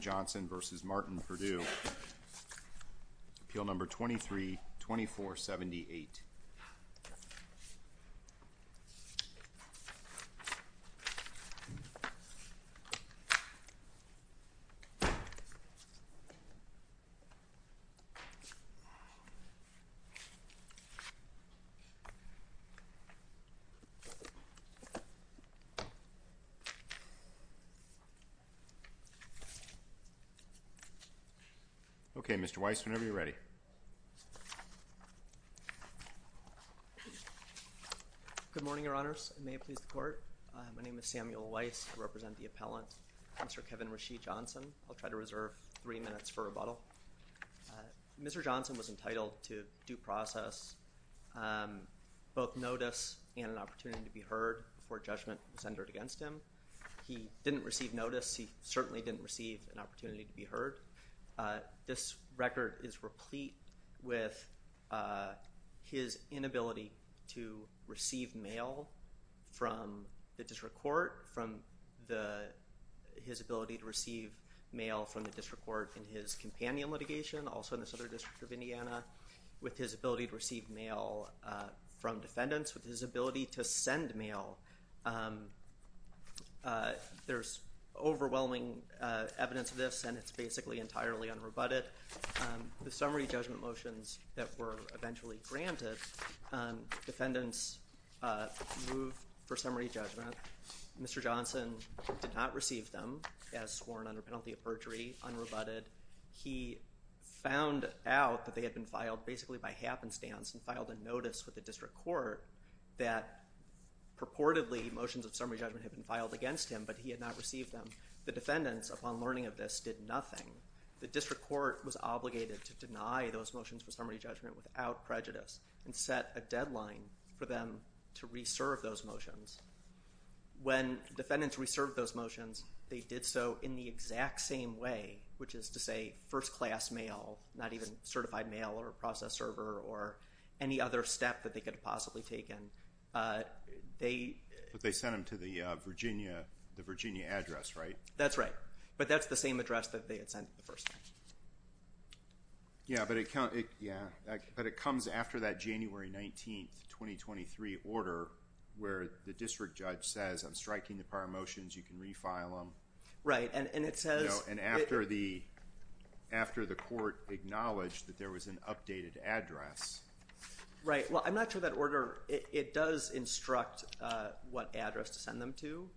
Johnson v. Martin Purdue, Appeal Number 23-2478. Okay, Mr. Weiss, whenever you're ready. Good morning, Your Honors. May it please the Court. My name is Samuel Weiss. I represent the appellant, Mr. Kevin Rasheed Johnson. I'll try to reserve three minutes for rebuttal. Mr. Johnson was entitled to due process, both notice and an opportunity to be heard before judgment was entered against him. He didn't receive notice. He certainly didn't receive an opportunity to be heard. This record is replete with his inability to receive mail from the District Court, from his ability to receive mail from the District Court in his companion litigation, also in the Southern District of Indiana, with his ability to receive mail from defendants, with his ability to send mail. There's overwhelming evidence of this and it's basically entirely unrebutted. The summary judgment motions that were eventually granted, defendants moved for summary judgment. Mr. Johnson did not receive them as sworn under penalty of perjury, unrebutted. He found out that they had been filed basically by happenstance and filed a notice with the District Court that purportedly motions of summary judgment had been filed against him, but he had not received them. The defendants, upon learning of this, did nothing. The District Court was obligated to deny those motions for summary judgment without prejudice and set a deadline for them to reserve those motions. When defendants reserved those motions, they did so in the exact same way, which is to say first-class mail, not even certified mail or process server or any other step that they could have possibly taken. But they sent them to the Virginia address, right? That's right. But that's the same address that they had sent the first time. Yeah, but it comes after that January 19th, 2023 order where the district judge says, I'm striking the prior motions. You can refile them. Right. And it says. And after the court acknowledged that there was an updated address. Right. Well, I'm not sure that order. It does instruct what address to send them to,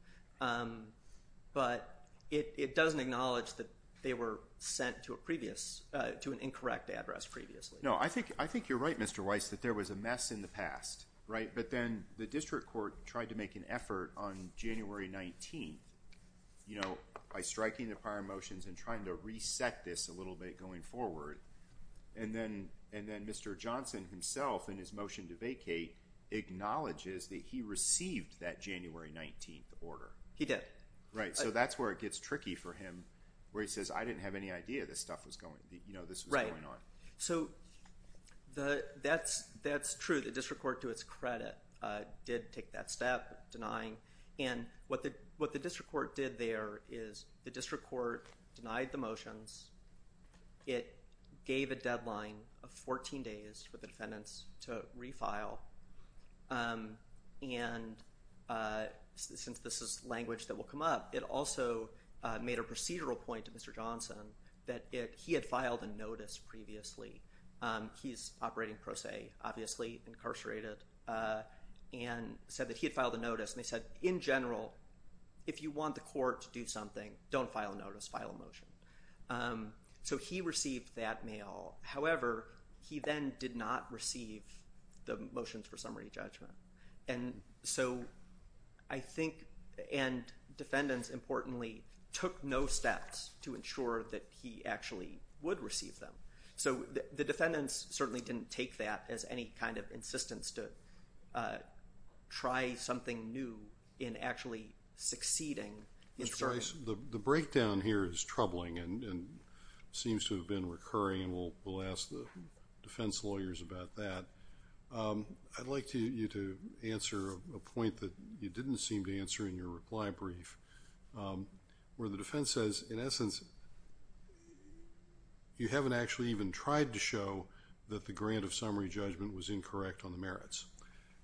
but it doesn't acknowledge that they were sent to a previous to an incorrect address previously. No, I think I think you're right, Mr. Weiss, that there was a mess in the past. Right. But then the district court tried to make an effort on January 19th, you know, by striking the prior motions and trying to reset this a little bit going forward. And then and then Mr. Johnson himself in his motion to vacate acknowledges that he received that January 19th order. He did. Right. So that's where it gets tricky for him, where he says, I didn't have any idea this stuff was going. You know, this is going on. So that's that's true. The district court, to its credit, did take that step denying. And what the what the district court did there is the district court denied the motions. It gave a deadline of 14 days for the defendants to refile. And since this is language that will come up, it also made a procedural point to Mr. Johnson that he had filed a notice previously. He's operating pro se, obviously incarcerated, and said that he had filed a notice. And they said, in general, if you want the court to do something, don't file a notice, file a motion. So he received that mail. However, he then did not receive the motions for summary judgment. And so I think and defendants, importantly, took no steps to ensure that he actually would receive them. So the defendants certainly didn't take that as any kind of insistence to try something new in actually succeeding. Mr. Rice, the breakdown here is troubling and seems to have been recurring. And we'll ask the defense lawyers about that. I'd like you to answer a point that you didn't seem to answer in your reply brief, where the defense says, in essence, you haven't actually even tried to show that the grant of summary judgment was incorrect on the merits.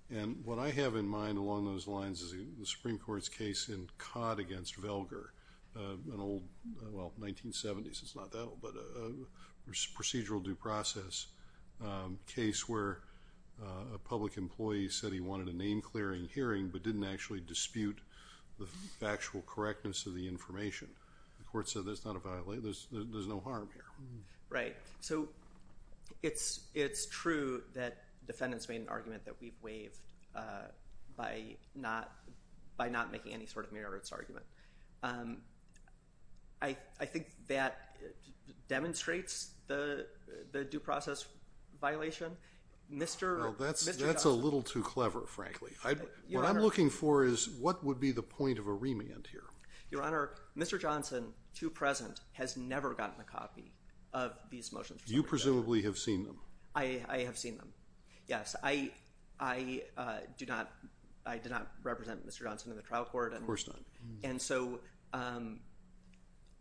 And what I have in mind along those lines is the Supreme Court's case in Codd against Velger, an old, well, 1970s. It's not that old, but procedural due process case where a public employee said he wanted a name-clearing hearing but didn't actually dispute the factual correctness of the information. The court said there's no harm here. Right. So it's true that defendants made an argument that we've waived by not making any sort of merits argument. I think that demonstrates the due process violation. Well, that's a little too clever, frankly. What I'm looking for is what would be the point of a remand here. Your Honor, Mr. Johnson, to present, has never gotten a copy of these motions for summary judgment. You presumably have seen them. I have seen them, yes. I do not represent Mr. Johnson in the trial court. Of course not. And so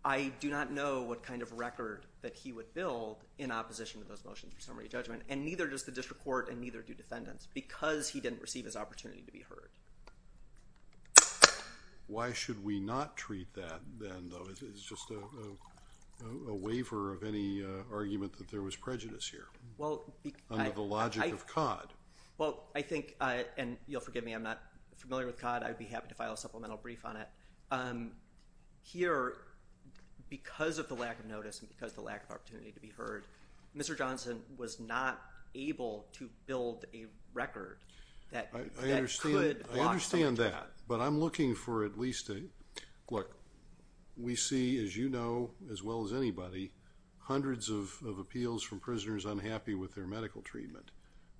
I do not know what kind of record that he would build in opposition to those motions for summary judgment. And neither does the district court, and neither do defendants, because he didn't receive his opportunity to be heard. Why should we not treat that then, though? It's just a waiver of any argument that there was prejudice here under the logic of COD. Well, I think, and you'll forgive me, I'm not familiar with COD. I'd be happy to file a supplemental brief on it. Here, because of the lack of notice and because of the lack of opportunity to be heard, Mr. Johnson was not able to build a record that could block summary judgment. I understand that, but I'm looking for at least a, look, we see, as you know as well as anybody, hundreds of appeals from prisoners unhappy with their medical treatment.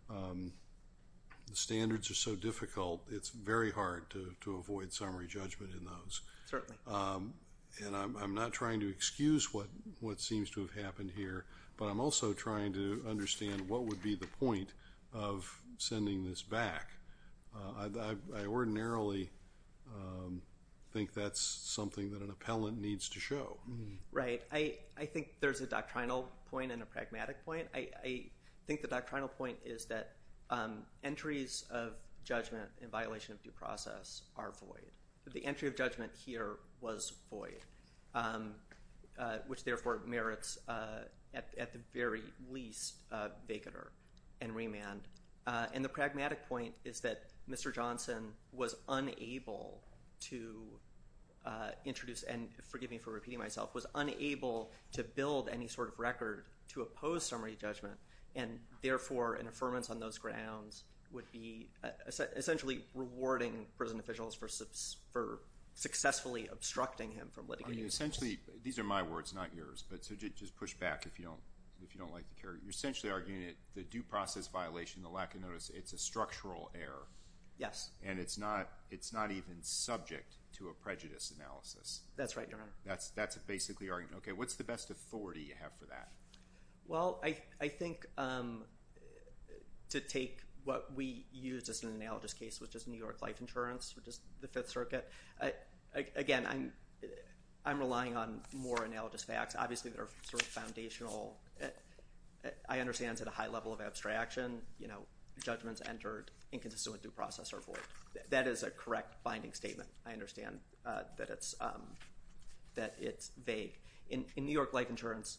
The standards are so difficult, it's very hard to avoid summary judgment in those. And I'm not trying to excuse what seems to have happened here, but I'm also trying to understand what would be the point of sending this back. I ordinarily think that's something that an appellant needs to show. Right. I think there's a doctrinal point and a pragmatic point. I think the doctrinal point is that entries of judgment in violation of due process are void. The entry of judgment here was void, which therefore merits at the very least a vacater and remand. And the pragmatic point is that Mr. Johnson was unable to introduce, and forgive me for repeating myself, was unable to build any sort of record to oppose summary judgment. And therefore, an affirmance on those grounds would be essentially rewarding prison officials for successfully obstructing him from letting him use it. Essentially, these are my words, not yours, but just push back if you don't like the character. You're essentially arguing that the due process violation, the lack of notice, it's a structural error. Yes. And it's not even subject to a prejudice analysis. That's right, Your Honor. That's basically your argument. Okay, what's the best authority you have for that? Well, I think to take what we use as an analogous case, which is New York Life Insurance, which is the Fifth Circuit. Again, I'm relying on more analogous facts, obviously, that are sort of foundational. I understand it's at a high level of abstraction. Judgments entered inconsistent with due process are void. That is a correct binding statement. I understand that it's vague. In New York Life Insurance,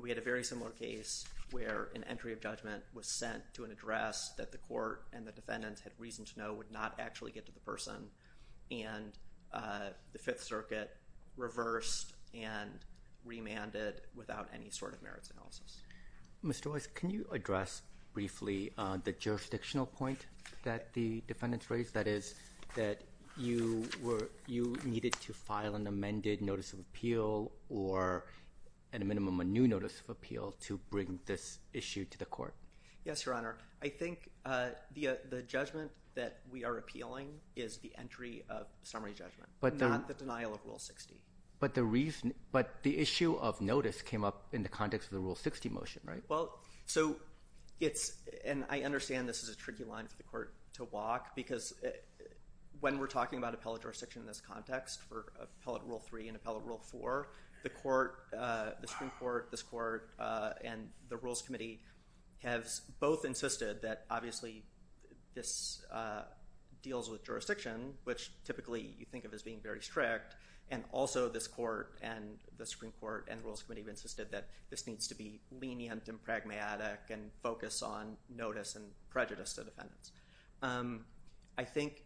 we had a very similar case where an entry of judgment was sent to an address that the court and the defendants had reason to know would not actually get to the person. And the Fifth Circuit reversed and remanded without any sort of merits analysis. Mr. Weiss, can you address briefly the jurisdictional point that the defendants raised? That is that you needed to file an amended notice of appeal or, at a minimum, a new notice of appeal to bring this issue to the court. Yes, Your Honor. I think the judgment that we are appealing is the entry of summary judgment, not the denial of Rule 60. But the issue of notice came up in the context of the Rule 60 motion, right? Well, so it's – and I understand this is a tricky line for the court to walk, because when we're talking about appellate jurisdiction in this context for Appellate Rule 3 and Appellate Rule 4, the Supreme Court, this Court, and the Rules Committee have both insisted that, obviously, this deals with jurisdiction, which typically you think of as being very strict. And also this Court and the Supreme Court and the Rules Committee have insisted that this needs to be lenient and pragmatic and focus on notice and prejudice to defendants. I think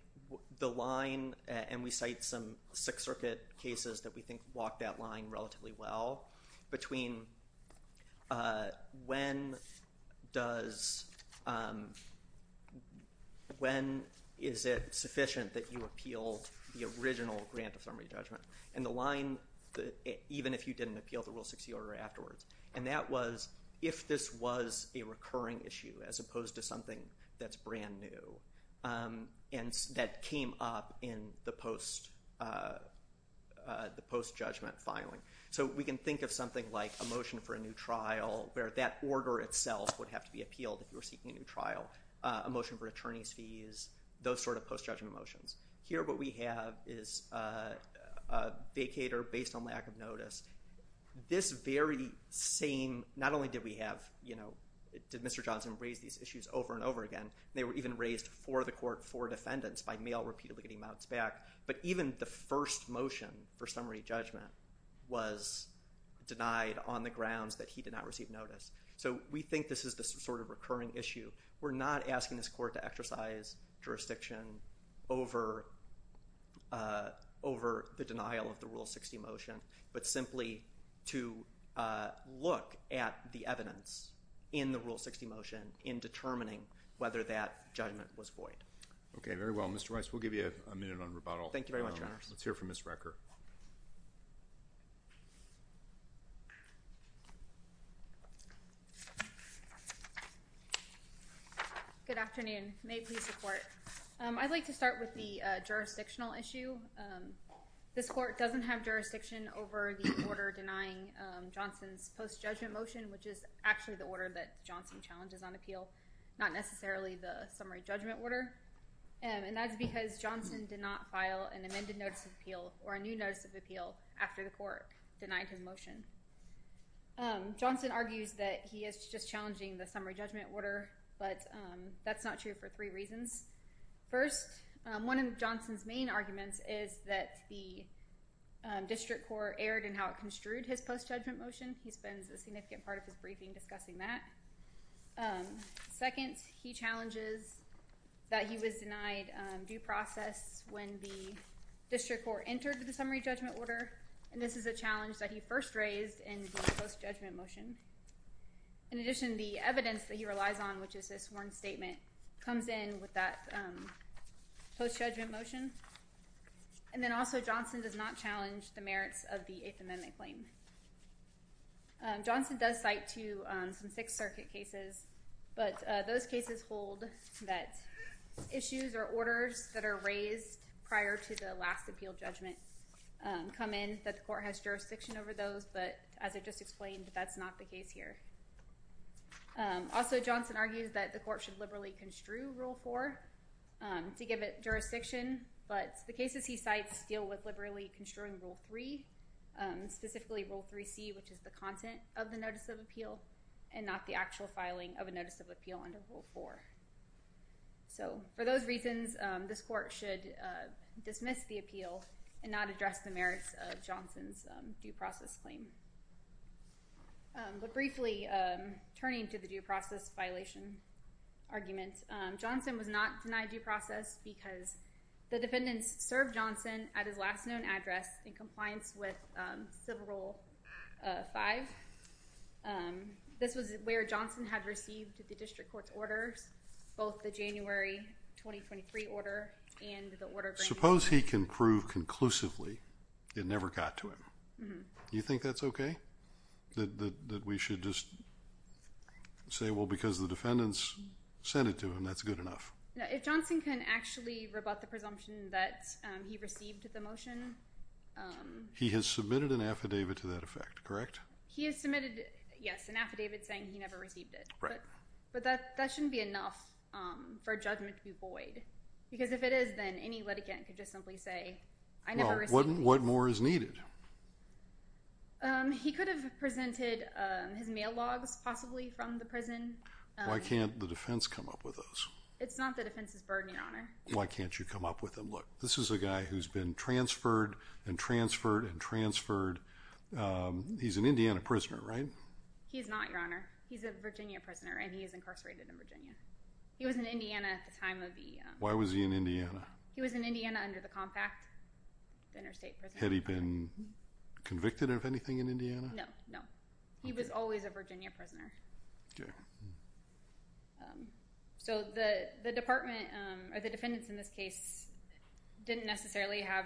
the line – and we cite some Sixth Circuit cases that we think walk that line relatively well – between when does – when is it sufficient that you appeal the original grant of summary judgment? And the line, even if you didn't appeal the Rule 60 order afterwards. And that was if this was a recurring issue as opposed to something that's brand new and that came up in the post-judgment filing. So we can think of something like a motion for a new trial where that order itself would have to be appealed if you were seeking a new trial, a motion for attorney's fees, those sort of post-judgment motions. Here what we have is a vacator based on lack of notice. This very same – not only did we have – did Mr. Johnson raise these issues over and over again. They were even raised for the Court for defendants by mail repeatedly getting mounts back. But even the first motion for summary judgment was denied on the grounds that he did not receive notice. So we think this is the sort of recurring issue. We're not asking this Court to exercise jurisdiction over the denial of the Rule 60 motion but simply to look at the evidence in the Rule 60 motion in determining whether that judgment was void. Okay, very well. Mr. Rice, we'll give you a minute on rebuttal. Thank you very much, Your Honors. Let's hear from Ms. Recker. Good afternoon. May it please the Court. I'd like to start with the jurisdictional issue. This Court doesn't have jurisdiction over the order denying Johnson's post-judgment motion, which is actually the order that Johnson challenges on appeal, not necessarily the summary judgment order. And that's because Johnson did not file an amended notice of appeal or a new notice of appeal after the Court denied his motion. Johnson argues that he is just challenging the summary judgment order, but that's not true for three reasons. First, one of Johnson's main arguments is that the district court erred in how it construed his post-judgment motion. He spends a significant part of his briefing discussing that. Second, he challenges that he was denied due process when the district court entered the summary judgment order, and this is a challenge that he first raised in the post-judgment motion. In addition, the evidence that he relies on, which is his sworn statement, comes in with that post-judgment motion. And then also Johnson does not challenge the merits of the Eighth Amendment claim. Johnson does cite, too, some Sixth Circuit cases, but those cases hold that issues or orders that are raised prior to the last appeal judgment come in, that the Court has jurisdiction over those, but as I just explained, that's not the case here. Also, Johnson argues that the Court should liberally construe Rule 4 to give it jurisdiction, but the cases he cites deal with liberally construing Rule 3, specifically Rule 3c, which is the content of the notice of appeal and not the actual filing of a notice of appeal under Rule 4. So for those reasons, this Court should dismiss the appeal and not address the merits of Johnson's due process claim. But briefly, turning to the due process violation argument, Johnson was not denied due process because the defendants served Johnson at his last known address in compliance with Civil Rule 5. This was where Johnson had received the district court's orders, both the January 2023 order and the order bringing— Suppose he can prove conclusively it never got to him. Do you think that's okay, that we should just say, well, because the defendants sent it to him, that's good enough? If Johnson can actually rebut the presumption that he received the motion— He has submitted an affidavit to that effect, correct? He has submitted, yes, an affidavit saying he never received it. Right. But that shouldn't be enough for judgment to be void because if it is, then any litigant could just simply say, I never received it. Well, what more is needed? He could have presented his mail logs possibly from the prison. Why can't the defense come up with those? It's not the defense's burden, Your Honor. Why can't you come up with them? Look, this is a guy who's been transferred and transferred and transferred. He's an Indiana prisoner, right? He's not, Your Honor. He's a Virginia prisoner, and he is incarcerated in Virginia. He was in Indiana at the time of the— Why was he in Indiana? He was in Indiana under the Compact, interstate prison. Had he been convicted of anything in Indiana? No, no. He was always a Virginia prisoner. Okay. So the department, or the defendants in this case, didn't necessarily have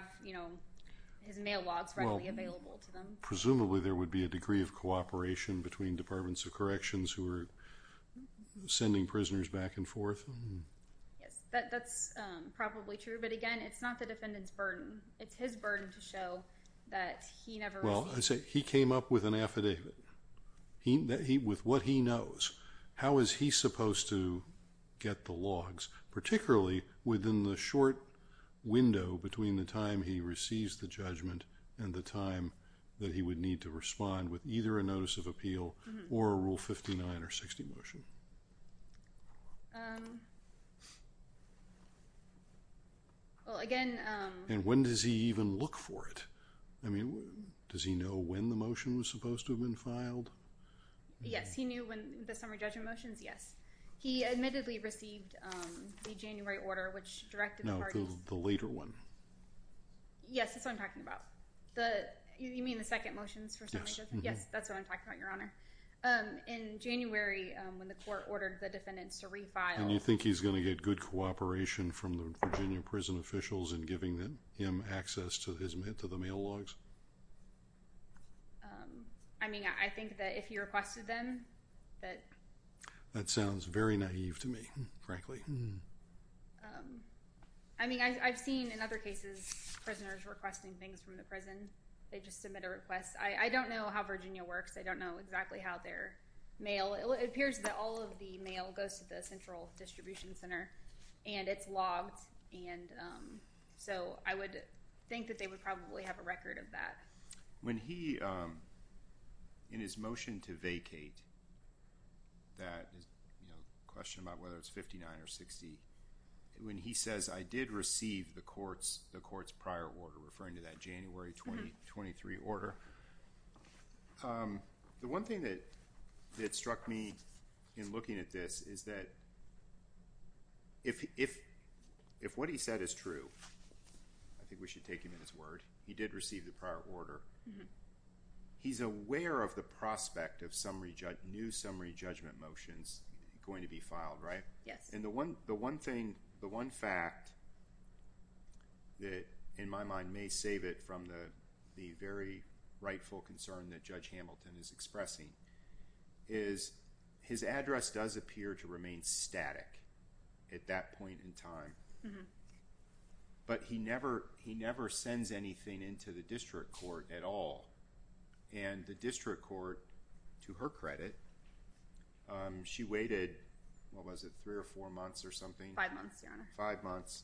his mail logs readily available to them. Well, presumably there would be a degree of cooperation between Departments of Corrections who were sending prisoners back and forth. Yes, that's probably true. But, again, it's not the defendant's burden. It's his burden to show that he never received— Well, he came up with an affidavit with what he knows. How is he supposed to get the logs, particularly within the short window between the time he receives the judgment and the time that he would need to respond with either a notice of appeal or a Rule 59 or 60 motion? Well, again— And when does he even look for it? I mean, does he know when the motion was supposed to have been filed? Yes, he knew when the summary judgment motions, yes. He admittedly received the January order, which directed the parties— No, the later one. Yes, that's what I'm talking about. You mean the second motions for summary judgment? Yes, that's what I'm talking about, Your Honor. In January, when the court ordered the defendants to refile— And you think he's going to get good cooperation from the Virginia prison officials in giving him access to the mail logs? I mean, I think that if he requested them that— That sounds very naive to me, frankly. I mean, I've seen in other cases prisoners requesting things from the prison. They just submit a request. I don't know how Virginia works. I don't know exactly how their mail— It appears that all of the mail goes to the central distribution center, and it's logged, and so I would think that they would probably have a record of that. When he, in his motion to vacate, that question about whether it's 59 or 60, when he says, I did receive the court's prior order, referring to that January 2023 order, the one thing that struck me in looking at this is that if what he said is true, I think we should take him at his word, he did receive the prior order, he's aware of the prospect of new summary judgment motions going to be filed, right? Yes. And the one thing, the one fact that, in my mind, may save it from the very rightful concern that Judge Hamilton is expressing is his address does appear to remain static at that point in time, but he never sends anything into the district court at all. And the district court, to her credit, she waited, what was it, three or four months or something? Five months, Your Honor. Five months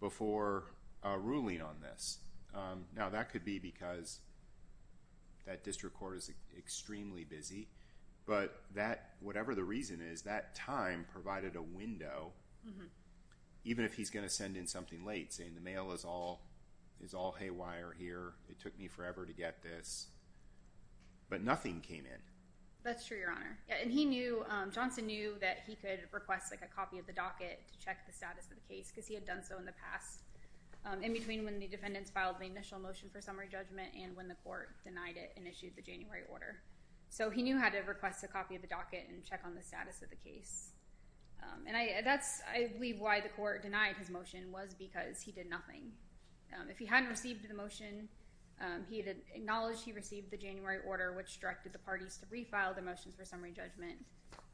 before ruling on this. Now, that could be because that district court is extremely busy, but that, whatever the reason is, that time provided a window, even if he's going to send in something late, saying the mail is all haywire here, it took me forever to get this, but nothing came in. That's true, Your Honor. And he knew, Johnson knew that he could request a copy of the docket to check the status of the case because he had done so in the past, in between when the defendants filed the initial motion for summary judgment and when the court denied it and issued the January order. So he knew how to request a copy of the docket and check on the status of the case. And that's, I believe, why the court denied his motion was because he did nothing. If he hadn't received the motion, he had acknowledged he received the January order, which directed the parties to refile the motions for summary judgment,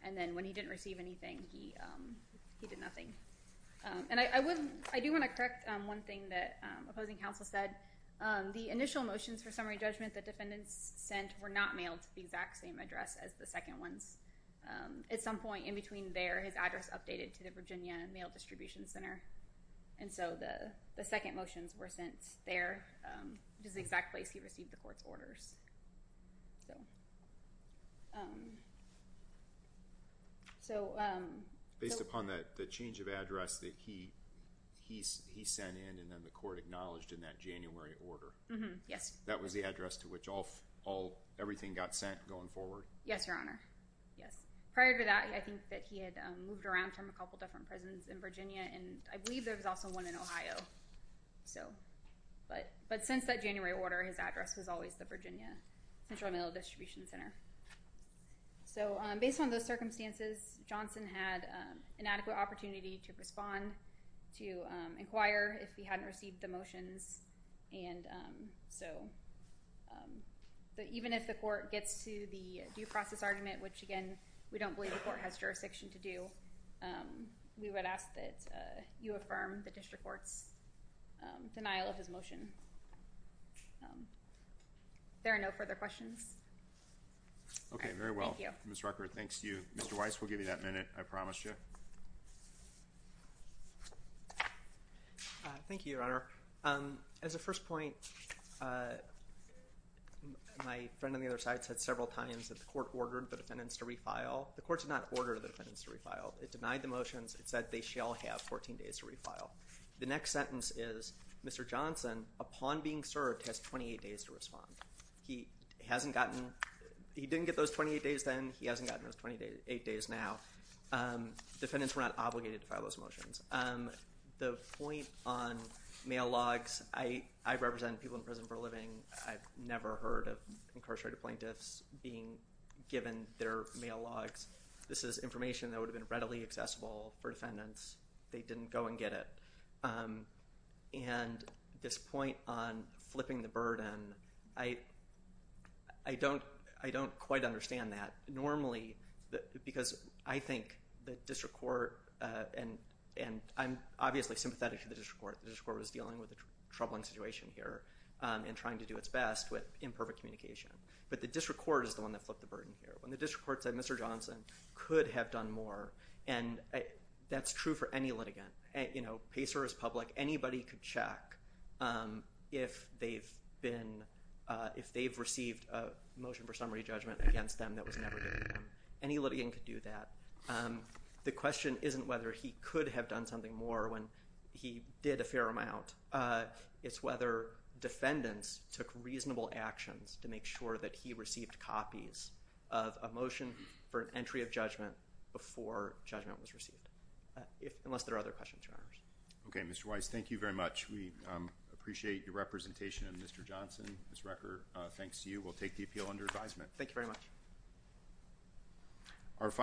and then when he didn't receive anything, he did nothing. And I do want to correct one thing that opposing counsel said. The initial motions for summary judgment that defendants sent were not mailed to the exact same address as the second ones. At some point in between there, his address updated to the Virginia Mail Distribution Center, and so the second motions were sent there, which is the exact place he received the court's orders. Based upon the change of address that he sent in and then the court acknowledged in that January order? Yes. That was the address to which everything got sent going forward? Yes, Your Honor. Yes. Prior to that, I think that he had moved around from a couple different prisons in Virginia, and I believe there was also one in Ohio. But since that January order, his address was always the Virginia Central Mail Distribution Center. So based on those circumstances, Johnson had an adequate opportunity to respond, to inquire if he hadn't received the motions. So even if the court gets to the due process argument, which, again, we don't believe the court has jurisdiction to do, we would ask that you affirm the district court's denial of his motion. There are no further questions. Okay, very well. Ms. Rucker, thanks to you. Mr. Weiss, we'll give you that minute. I promised you. Thank you, Your Honor. As a first point, my friend on the other side said several times that the court ordered the defendants to refile. The court did not order the defendants to refile. It denied the motions. It said they shall have 14 days to refile. The next sentence is, Mr. Johnson, upon being served, has 28 days to respond. He hasn't gotten—he didn't get those 28 days then. He hasn't gotten those 28 days now. Defendants were not obligated to file those motions. The point on mail logs, I represent people in prison for a living. I've never heard of incarcerated plaintiffs being given their mail logs. This is information that would have been readily accessible for defendants. They didn't go and get it. And this point on flipping the burden, I don't quite understand that. Normally, because I think the district court—and I'm obviously sympathetic to the district court. The district court was dealing with a troubling situation here and trying to do its best with imperfect communication. But the district court is the one that flipped the burden here. When the district court said, Mr. Johnson could have done more, and that's true for any litigant. Pacer is public. Anybody could check if they've received a motion for summary judgment against them that was never given to them. Any litigant could do that. The question isn't whether he could have done something more when he did a fair amount. It's whether defendants took reasonable actions to make sure that he received copies of a motion for an entry of judgment before judgment was received. Unless there are other questions, Your Honors. Okay, Mr. Weiss, thank you very much. We appreciate your representation, Mr. Johnson. Ms. Rucker, thanks to you, we'll take the appeal under advisement. Thank you very much.